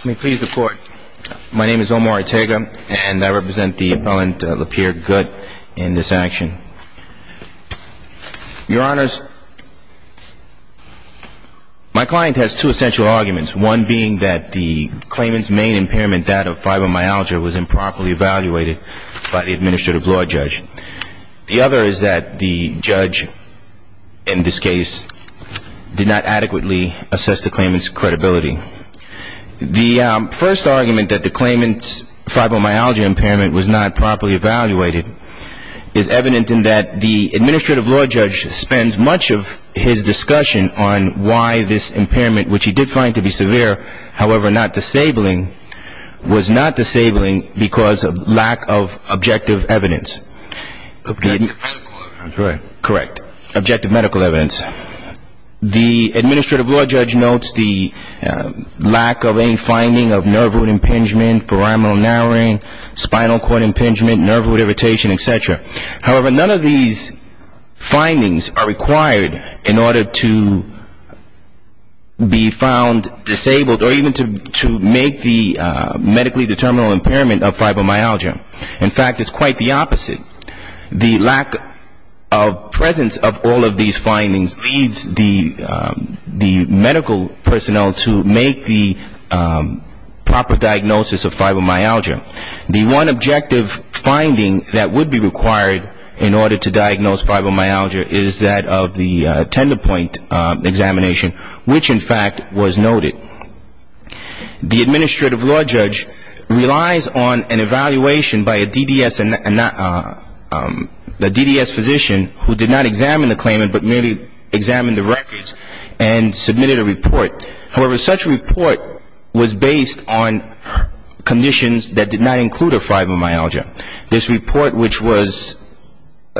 Let me please the court. My name is Omar Ortega, and I represent the appellant Lapeirre-Gutt in this action. Your honors, my client has two essential arguments, one being that the claimant's main impairment, that of fibromyalgia, was improperly evaluated by the administrative law judge. The other is that the judge, in this case, did not adequately assess the claimant's credibility. The first argument, that the claimant's fibromyalgia impairment was not properly evaluated, is evident in that the administrative law judge spends much of his discussion on why this impairment, which he did find to be severe, however not disabling, was not disabling because of lack of objective evidence. Objective medical evidence. Correct. Objective medical evidence. The administrative law judge notes the lack of any finding of nerve root impingement, foraminal narrowing, spinal cord impingement, nerve root irritation, etc. However, none of these findings are required in order to be found disabled or even to make the medically determinable impairment of fibromyalgia. In fact, it's quite the opposite. The lack of presence of all of these findings leads the medical personnel to make the proper diagnosis of fibromyalgia. The one objective finding that would be required in order to diagnose fibromyalgia is that of the tender point examination, which in fact was noted. The administrative law judge relies on an evaluation by a DDS physician who did not examine the claimant but merely examined the records and submitted a report. However, such a report was based on conditions that did not include a fibromyalgia. This report, which was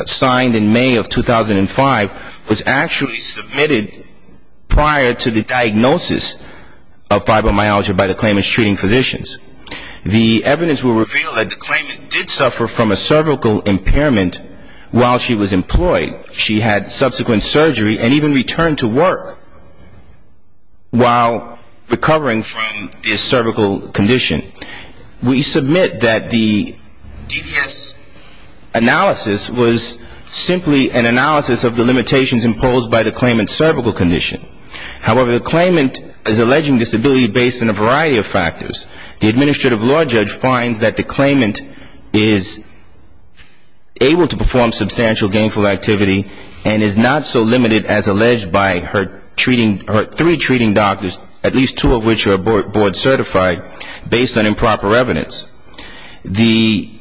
signed in May of 2005, was actually submitted prior to the diagnosis of fibromyalgia by the claimant's treating physicians. The evidence will reveal that the claimant did suffer from a cervical impairment while she was employed. She had subsequent surgery and even returned to work while recovering from this cervical condition. We submit that the DDS analysis was simply an analysis of the limitations imposed by the claimant's cervical condition. However, the claimant is alleging disability based on a variety of factors. The administrative law judge finds that the claimant is able to perform substantial gainful activity and is not so limited as alleged by her treating, her three treating doctors, at least two of which are board certified, based on improper evidence. The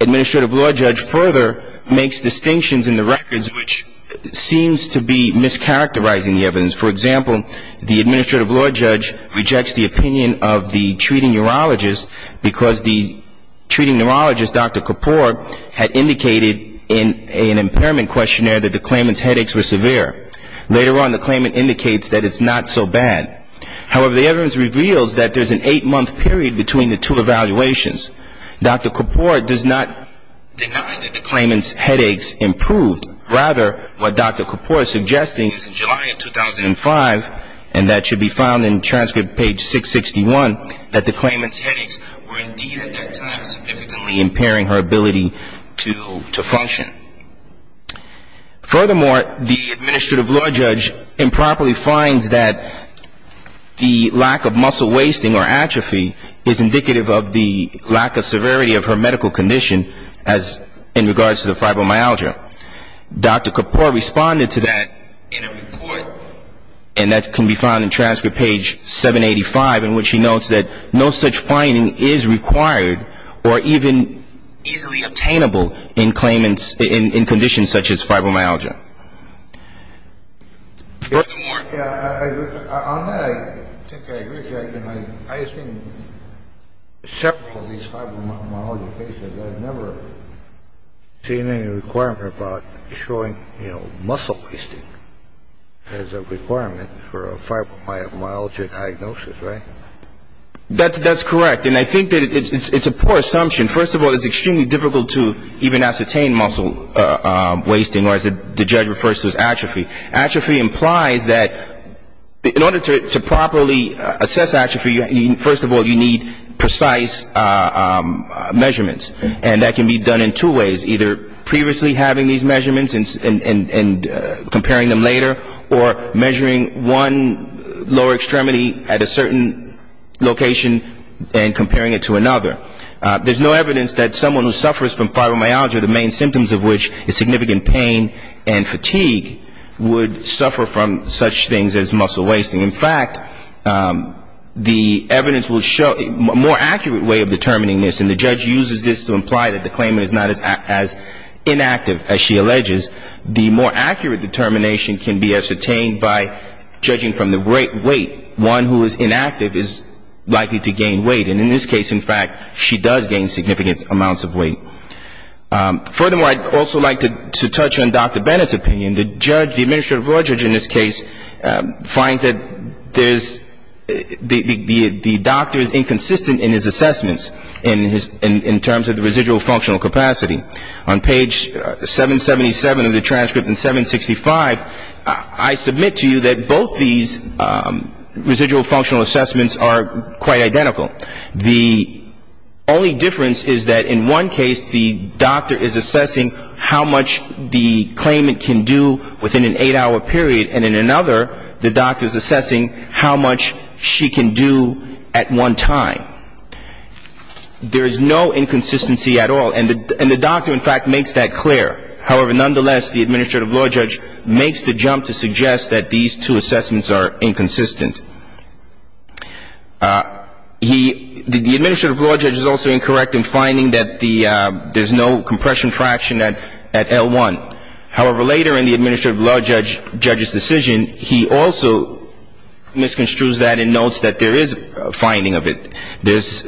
administrative law judge further makes distinctions in the records which seems to be mischaracterizing the evidence. For example, the administrative law judge rejects the opinion of the treating neurologist because the treating neurologist, Dr. Kapoor, had indicated in an impairment questionnaire that the claimant's headaches were severe. Later on, the claimant indicates that it's not so bad. However, the evidence reveals that there's an eight-month period between the two evaluations. Dr. Kapoor does not deny that the claimant's headaches improved. Rather, what Dr. Kapoor is suggesting is in July of 2005, and that should be found in transcript page 661, that the claimant's headaches were indeed at that time significantly impairing her ability to function. Furthermore, the administrative law judge improperly finds that the lack of muscle wasting or atrophy is indicative of the claimant's lack of severity of her medical condition as in regards to the fibromyalgia. Dr. Kapoor responded to that in a report, and that can be found in transcript page 785, in which he notes that no such finding is required or even easily obtainable in claimants in conditions such as fibromyalgia. On that, I think I agree with you. I have seen several of these fibromyalgia patients. I've never seen any requirement about showing, you know, muscle wasting as a requirement for a fibromyalgia diagnosis, right? That's correct. And I think that it's a poor assumption. First of all, it's extremely difficult to even ascertain muscle wasting, or as the judge refers to as atrophy. Atrophy implies that in order to properly assess atrophy, first of all, you need precise measurements. And that can be done in two ways, either previously having these measurements and comparing them later, or measuring one lower extremity at a certain location and comparing it to another. There's no evidence that someone who suffers from fibromyalgia, the main symptoms of which is significant pain and fatigue, would suffer from such things as muscle wasting. In fact, the evidence will show a more accurate way of determining this, and the judge uses this to imply that the claimant is not as inactive as she alleges. The more accurate determination can be ascertained by judging from the weight. One who is inactive is likely to gain weight. And in this case, in fact, she does gain significant amounts of weight. Furthermore, I'd also like to touch on Dr. Bennett's opinion. The judge, the administrative law judge in this case, finds that the doctor is inconsistent in his assessments in terms of the residual functional capacity. On page 777 of the transcript and 765, I submit to you that both these residual functional assessments are quite identical. The only difference is that in one case, the doctor is assessing how much the claimant can do within an eight-hour period, and in another, the doctor is assessing how much she can do at one time. There is no inconsistency at all, and the doctor, in fact, makes that clear. However, nonetheless, the administrative law judge makes the jump to suggest that these two assessments are inconsistent. The administrative law judge is also incorrect in finding that there's no compression fraction at L1. However, later in the administrative law judge's decision, he also misconstrues that and notes that there is a finding of it. There's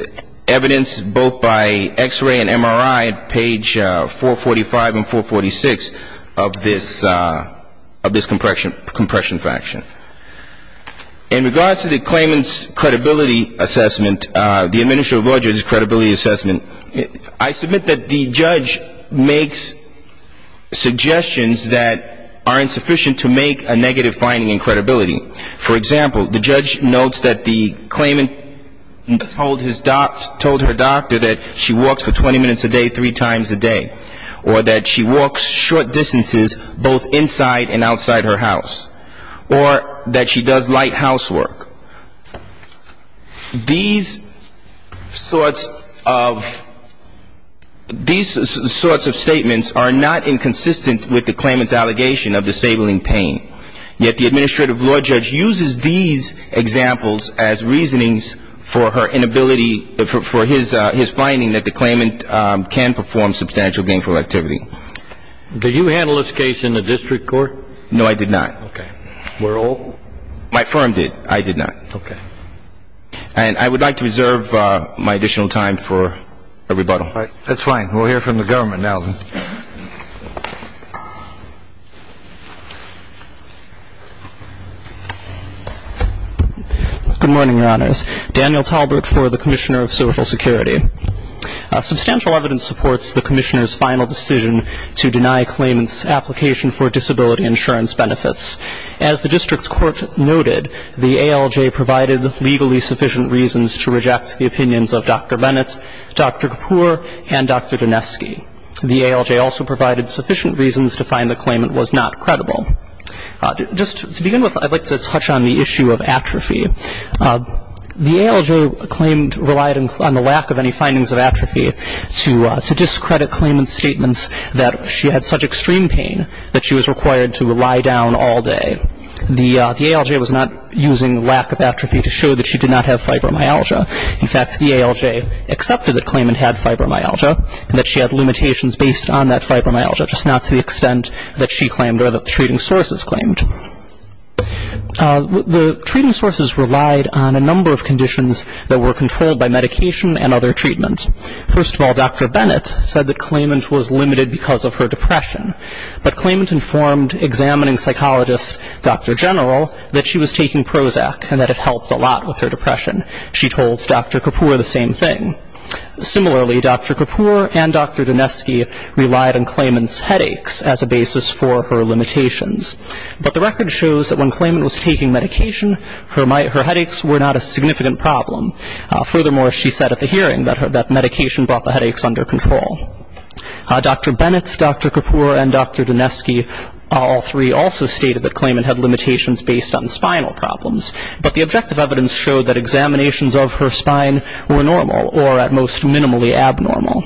evidence both by x-ray and MRI at page 445 and 446 of this compression fraction. In regards to the claimant's credibility assessment, the administrative law judge's credibility assessment, I submit that the judge makes suggestions that are insufficient to make a negative finding in credibility. For example, the judge notes that the claimant told her doctor that she walks for 20 minutes a day three times a day, or that she walks short distances both inside and outside her house, or that she does light housework. These sorts of statements are not inconsistent with the claimant's allegation of disabling pain, yet the administrative law judge uses these examples as reasonings for her inability for his finding that the claimant can perform substantial gainful activity. Did you handle this case in the district court? No, I did not. Okay. Were all? My firm did. I did not. Okay. And I would like to reserve my additional time for a rebuttal. That's fine. We'll hear from the government now, then. Good morning, Your Honors. Daniel Tallbrook for the Commissioner of Social Security. Substantial evidence supports the Commissioner's final decision to deny claimant's application for disability insurance benefits. As the district court noted, the ALJ provided legally sufficient reasons to reject the opinions of Dr. Bennett, Dr. Kapur, and Dr. Doneski. The ALJ also provided sufficient reasons to find the claimant was not credible. Just to begin with, I'd like to touch on the issue of atrophy. The ALJ claimed relied on the lack of any findings of atrophy to discredit claimant's statements that she had such extreme pain that she was required to lie down all day. The ALJ was not using lack of atrophy to show that she did not have fibromyalgia. In fact, the ALJ accepted that claimant had fibromyalgia and that she had limitations based on that fibromyalgia, just not to the extent that she claimed or that the treating sources claimed. The treating sources relied on a number of conditions that were controlled by medication and other treatments. First of all, Dr. Bennett said that claimant was limited because of her depression. But claimant informed examining psychologist Dr. General that she was taking Prozac and that it helped a lot with her depression. She told Dr. Kapoor the same thing. Similarly, Dr. Kapoor and Dr. Dineski relied on claimant's headaches as a basis for her limitations. But the record shows that when claimant was taking medication, her headaches were not a significant problem. Furthermore, she said at the hearing that medication brought the headaches under control. Dr. Bennett, Dr. Kapoor, and Dr. Dineski, all three, also stated that claimant had limitations based on spinal problems. But the objective evidence showed that examinations of her spine were normal or at most minimally abnormal.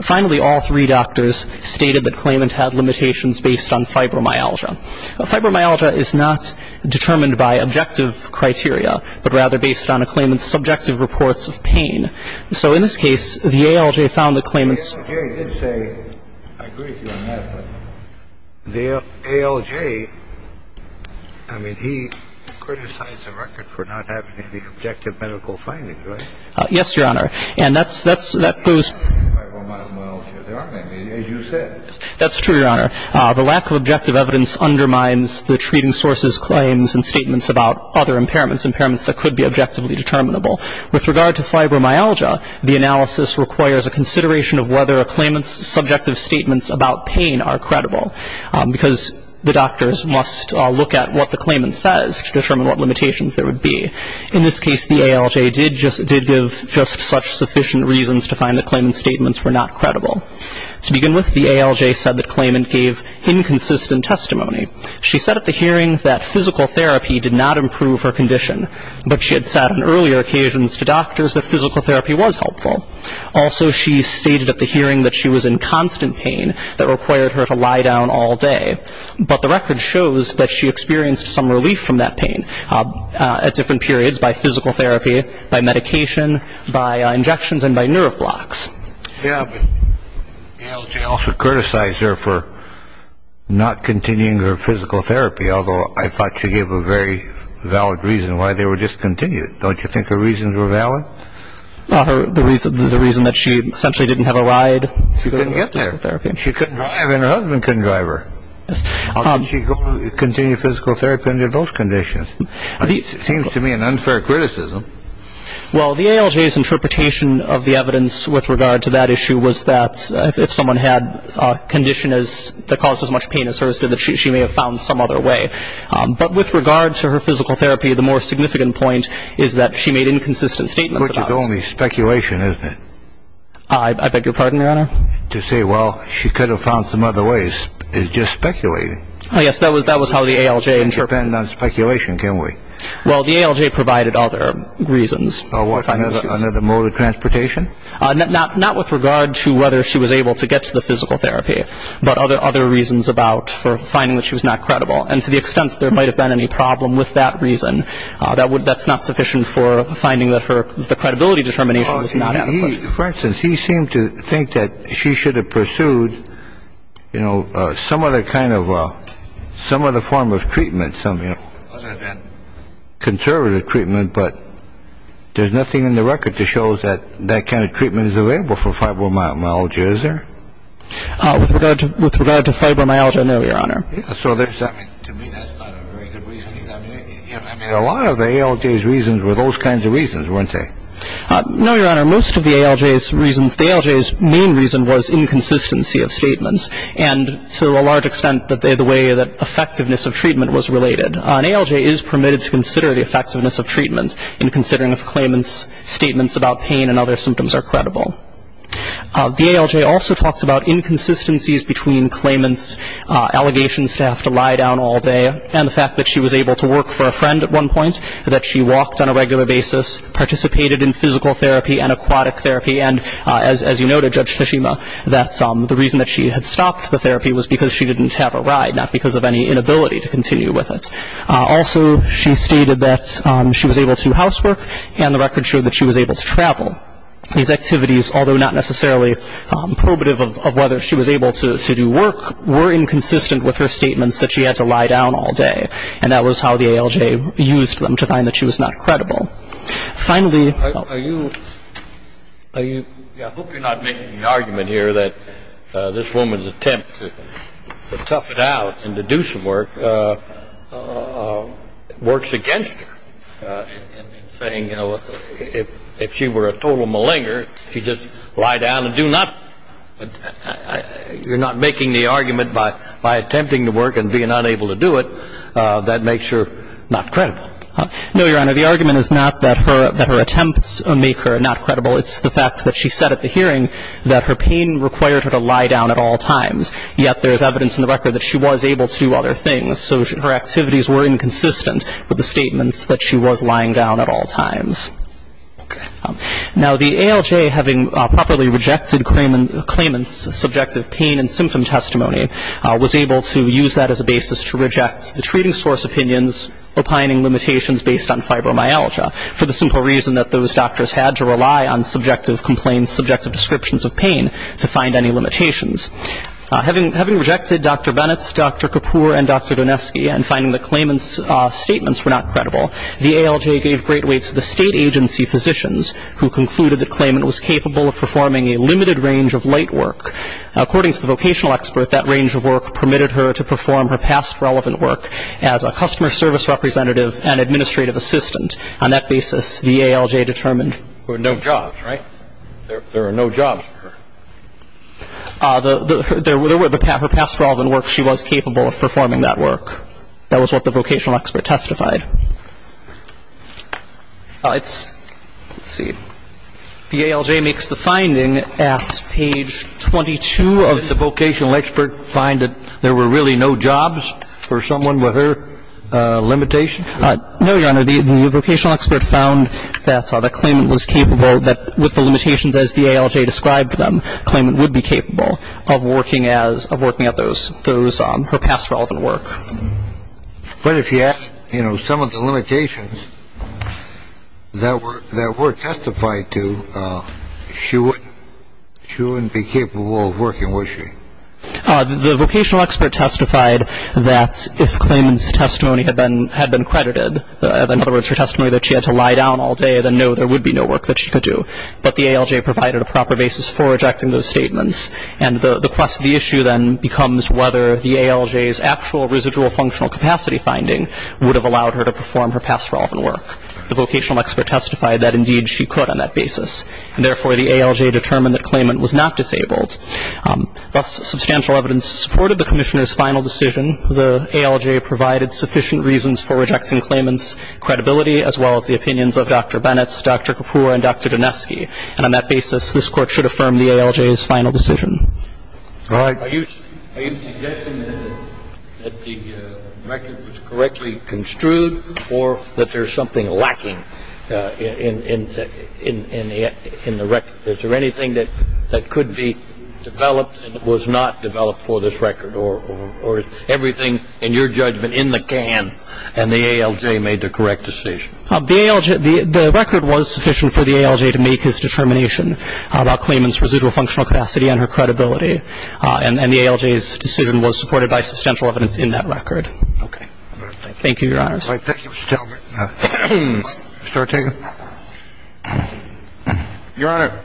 Finally, all three doctors stated that claimant had limitations based on fibromyalgia. Fibromyalgia is not determined by objective criteria, but rather based on a claimant's subjective reports of pain. So in this case, the ALJ found that claimant's ‑‑ for not having any objective medical findings, right? Yes, Your Honor. And that goes ‑‑ That's true, Your Honor. The lack of objective evidence undermines the treating sources' claims and statements about other impairments, impairments that could be objectively determinable. With regard to fibromyalgia, the analysis requires a consideration of whether a claimant's subjective statements about pain are credible because the doctors must look at what the claimant says to determine what limitations there would be. In this case, the ALJ did give just such sufficient reasons to find that claimant's statements were not credible. To begin with, the ALJ said that claimant gave inconsistent testimony. She said at the hearing that physical therapy did not improve her condition, but she had said on earlier occasions to doctors that physical therapy was helpful. Also, she stated at the hearing that she was in constant pain that required her to lie down all day, but the record shows that she experienced some relief from that pain at different periods by physical therapy, by medication, by injections, and by nerve blocks. Yeah, but the ALJ also criticized her for not continuing her physical therapy, although I thought she gave a very valid reason why they were discontinued. Don't you think her reasons were valid? The reason that she essentially didn't have a ride? She couldn't get there. I mean, her husband couldn't drive her. How could she continue physical therapy under those conditions? It seems to me an unfair criticism. Well, the ALJ's interpretation of the evidence with regard to that issue was that if someone had a condition that caused as much pain as hers did, she may have found some other way. But with regard to her physical therapy, the more significant point is that she made inconsistent statements about it. But you're calling me speculation, isn't it? I beg your pardon, Your Honor? To say, well, she could have found some other ways is just speculating. Yes, that was how the ALJ interpreted it. We can't depend on speculation, can we? Well, the ALJ provided other reasons. Another mode of transportation? Not with regard to whether she was able to get to the physical therapy, but other reasons about finding that she was not credible. And to the extent that there might have been any problem with that reason, that's not sufficient for finding that the credibility determination was not adequate. For instance, he seemed to think that she should have pursued some other kind of, some other form of treatment, some other than conservative treatment. But there's nothing in the record that shows that that kind of treatment is available for fibromyalgia, is there? With regard to fibromyalgia, no, Your Honor. So to me, that's not a very good reasoning. I mean, a lot of the ALJ's reasons were those kinds of reasons, weren't they? No, Your Honor. Most of the ALJ's reasons, the ALJ's main reason was inconsistency of statements, and to a large extent the way that effectiveness of treatment was related. An ALJ is permitted to consider the effectiveness of treatments in considering if claimants' statements about pain and other symptoms are credible. The ALJ also talked about inconsistencies between claimants' allegations to have to lie down all day and the fact that she was able to work for a friend at one point, that she walked on a regular basis, participated in physical therapy and aquatic therapy, and as you noted, Judge Tsushima, that the reason that she had stopped the therapy was because she didn't have a ride, not because of any inability to continue with it. Also, she stated that she was able to housework, and the record showed that she was able to travel. These activities, although not necessarily probative of whether she was able to do work, were inconsistent with her statements that she had to lie down all day, and that was how the ALJ used them to find that she was not credible. Finally, are you – I hope you're not making the argument here that this woman's attempt to tough it out and to do some work works against her, saying, you know, if she were a total malinger, she'd just lie down and do nothing? You're not making the argument by attempting to work and being unable to do it, that makes her not credible? No, Your Honor. The argument is not that her attempts make her not credible. It's the fact that she said at the hearing that her pain required her to lie down at all times, yet there is evidence in the record that she was able to do other things. So her activities were inconsistent with the statements that she was lying down at all times. Now, the ALJ, having properly rejected Klayman's subjective pain and symptom testimony, was able to use that as a basis to reject the treating source opinions opining limitations based on fibromyalgia, for the simple reason that those doctors had to rely on subjective complaints, subjective descriptions of pain, to find any limitations. Having rejected Dr. Bennett's, Dr. Kapoor's, and Dr. Doneski's, and finding that Klayman's statements were not credible, the ALJ gave great weight to the state agency physicians, who concluded that Klayman was capable of performing a limited range of light work. According to the vocational expert, that range of work permitted her to perform her past relevant work as a customer service representative and administrative assistant. On that basis, the ALJ determined. There were no jobs, right? There are no jobs for her. There were. Her past relevant work, she was capable of performing that work. That was what the vocational expert testified. Let's see. The ALJ makes the finding at page 22 of. Did the vocational expert find that there were really no jobs for someone with her limitations? No, Your Honor. The vocational expert found that Klayman was capable, with the limitations as the ALJ described them, Klayman would be capable of working at those, her past relevant work. But if you ask, you know, some of the limitations that were testified to, she wouldn't be capable of working, would she? The vocational expert testified that if Klayman's testimony had been credited, in other words, her testimony that she had to lie down all day, then no, there would be no work that she could do. But the ALJ provided a proper basis for rejecting those statements. And the quest of the issue then becomes whether the ALJ's actual residual functional capacity finding would have allowed her to perform her past relevant work. The vocational expert testified that, indeed, she could on that basis. Therefore, the ALJ determined that Klayman was not disabled. Thus, substantial evidence supported the Commissioner's final decision. The ALJ provided sufficient reasons for rejecting Klayman's credibility, as well as the opinions of Dr. Bennett, Dr. Kapoor, and Dr. Doneski. And on that basis, this Court should affirm the ALJ's final decision. All right. Are you suggesting that the record was correctly construed, or that there's something lacking in the record? Is there anything that could be developed and was not developed for this record? Or is everything in your judgment in the can, and the ALJ made the correct decision? The ALJ, the record was sufficient for the ALJ to make its determination about Klayman's residual functional capacity and her credibility. And the ALJ's decision was supported by substantial evidence in that record. Okay. Thank you, Your Honor. All right. Thank you, Mr. Talbot. Mr. Ortega. Your Honor,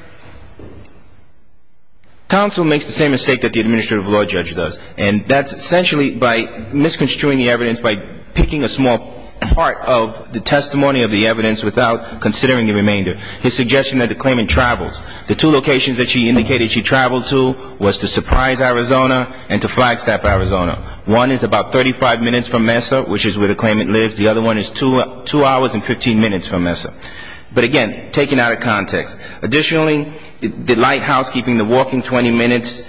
counsel makes the same mistake that the administrative law judge does, and that's essentially by misconstruing the evidence by picking a small part of the testimony of the evidence without considering the remainder. His suggestion that the Klayman travels. The two locations that she indicated she traveled to was to Surprise, Arizona, and to Flagstaff, Arizona. One is about 35 minutes from Mesa, which is where the Klayman lives. The other one is two hours and 15 minutes from Mesa. But, again, taken out of context. Additionally, the light housekeeping, the walking 20 minutes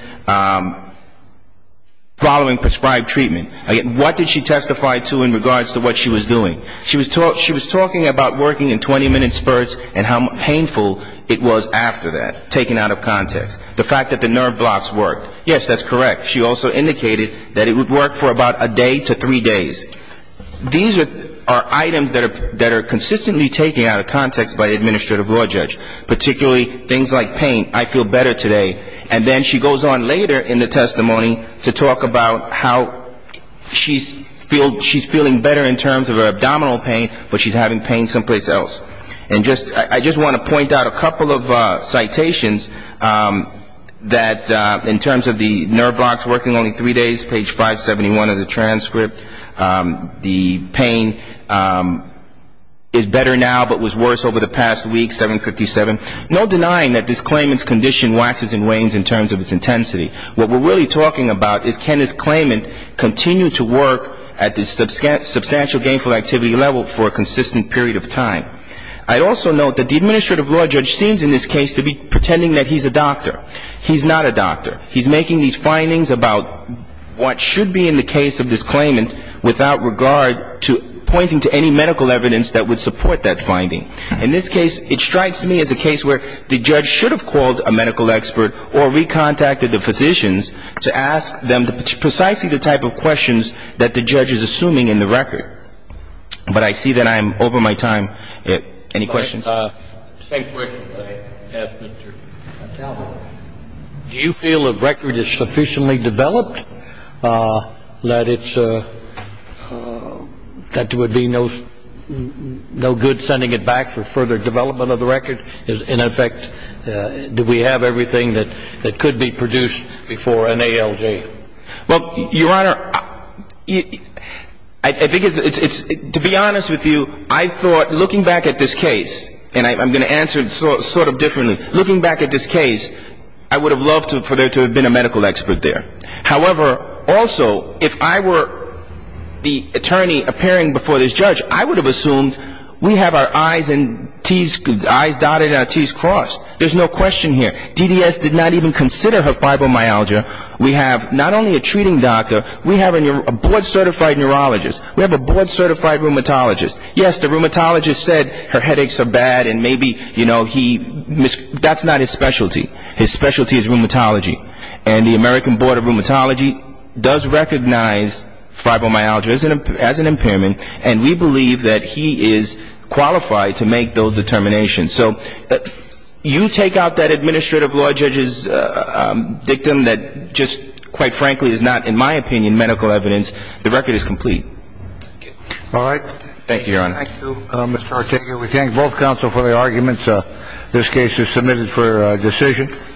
following prescribed treatment. Again, what did she testify to in regards to what she was doing? She was talking about working in 20-minute spurts and how painful it was after that, taken out of context. The fact that the nerve blocks worked. Yes, that's correct. She also indicated that it would work for about a day to three days. These are items that are consistently taken out of context by the administrative law judge, particularly things like pain. I feel better today. And then she goes on later in the testimony to talk about how she's feeling better in terms of her abdominal pain, but she's having pain someplace else. And I just want to point out a couple of citations that in terms of the nerve blocks working only three days, page 571 of the transcript, the pain is better now but was worse over the past week, 757. No denying that this Klayman's condition waxes and wanes in terms of its intensity. What we're really talking about is can this Klayman continue to work at this substantial gainful activity level for a consistent period of time? I'd also note that the administrative law judge seems in this case to be pretending that he's a doctor. He's not a doctor. He's making these findings about what should be in the case of this Klayman without regard to pointing to any medical evidence that would support that finding. In this case, it strikes me as a case where the judge should have called a medical expert or recontacted the physicians to ask them precisely the type of questions that the judge is assuming in the record. But I see that I am over my time. Any questions? Do you feel the record is sufficiently developed that it's a – that it would be no good sending it back for further development of the record? In effect, do we have everything that could be produced before an ALJ? Well, Your Honor, I think it's – to be honest with you, I thought looking back at this case, and I'm going to answer it sort of differently, looking back at this case, I would have loved for there to have been a medical expert there. However, also, if I were the attorney appearing before this judge, I would have assumed we have our I's dotted and our T's crossed. There's no question here. DDS did not even consider her fibromyalgia. We have not only a treating doctor, we have a board-certified neurologist. We have a board-certified rheumatologist. Yes, the rheumatologist said her headaches are bad and maybe, you know, he – that's not his specialty. His specialty is rheumatology. And the American Board of Rheumatology does recognize fibromyalgia as an impairment. And we believe that he is qualified to make those determinations. So you take out that administrative law judge's dictum that just, quite frankly, is not, in my opinion, medical evidence. The record is complete. All right. Thank you, Your Honor. Thank you, Mr. Ortega. We thank both counsel for their arguments. This case is submitted for decision.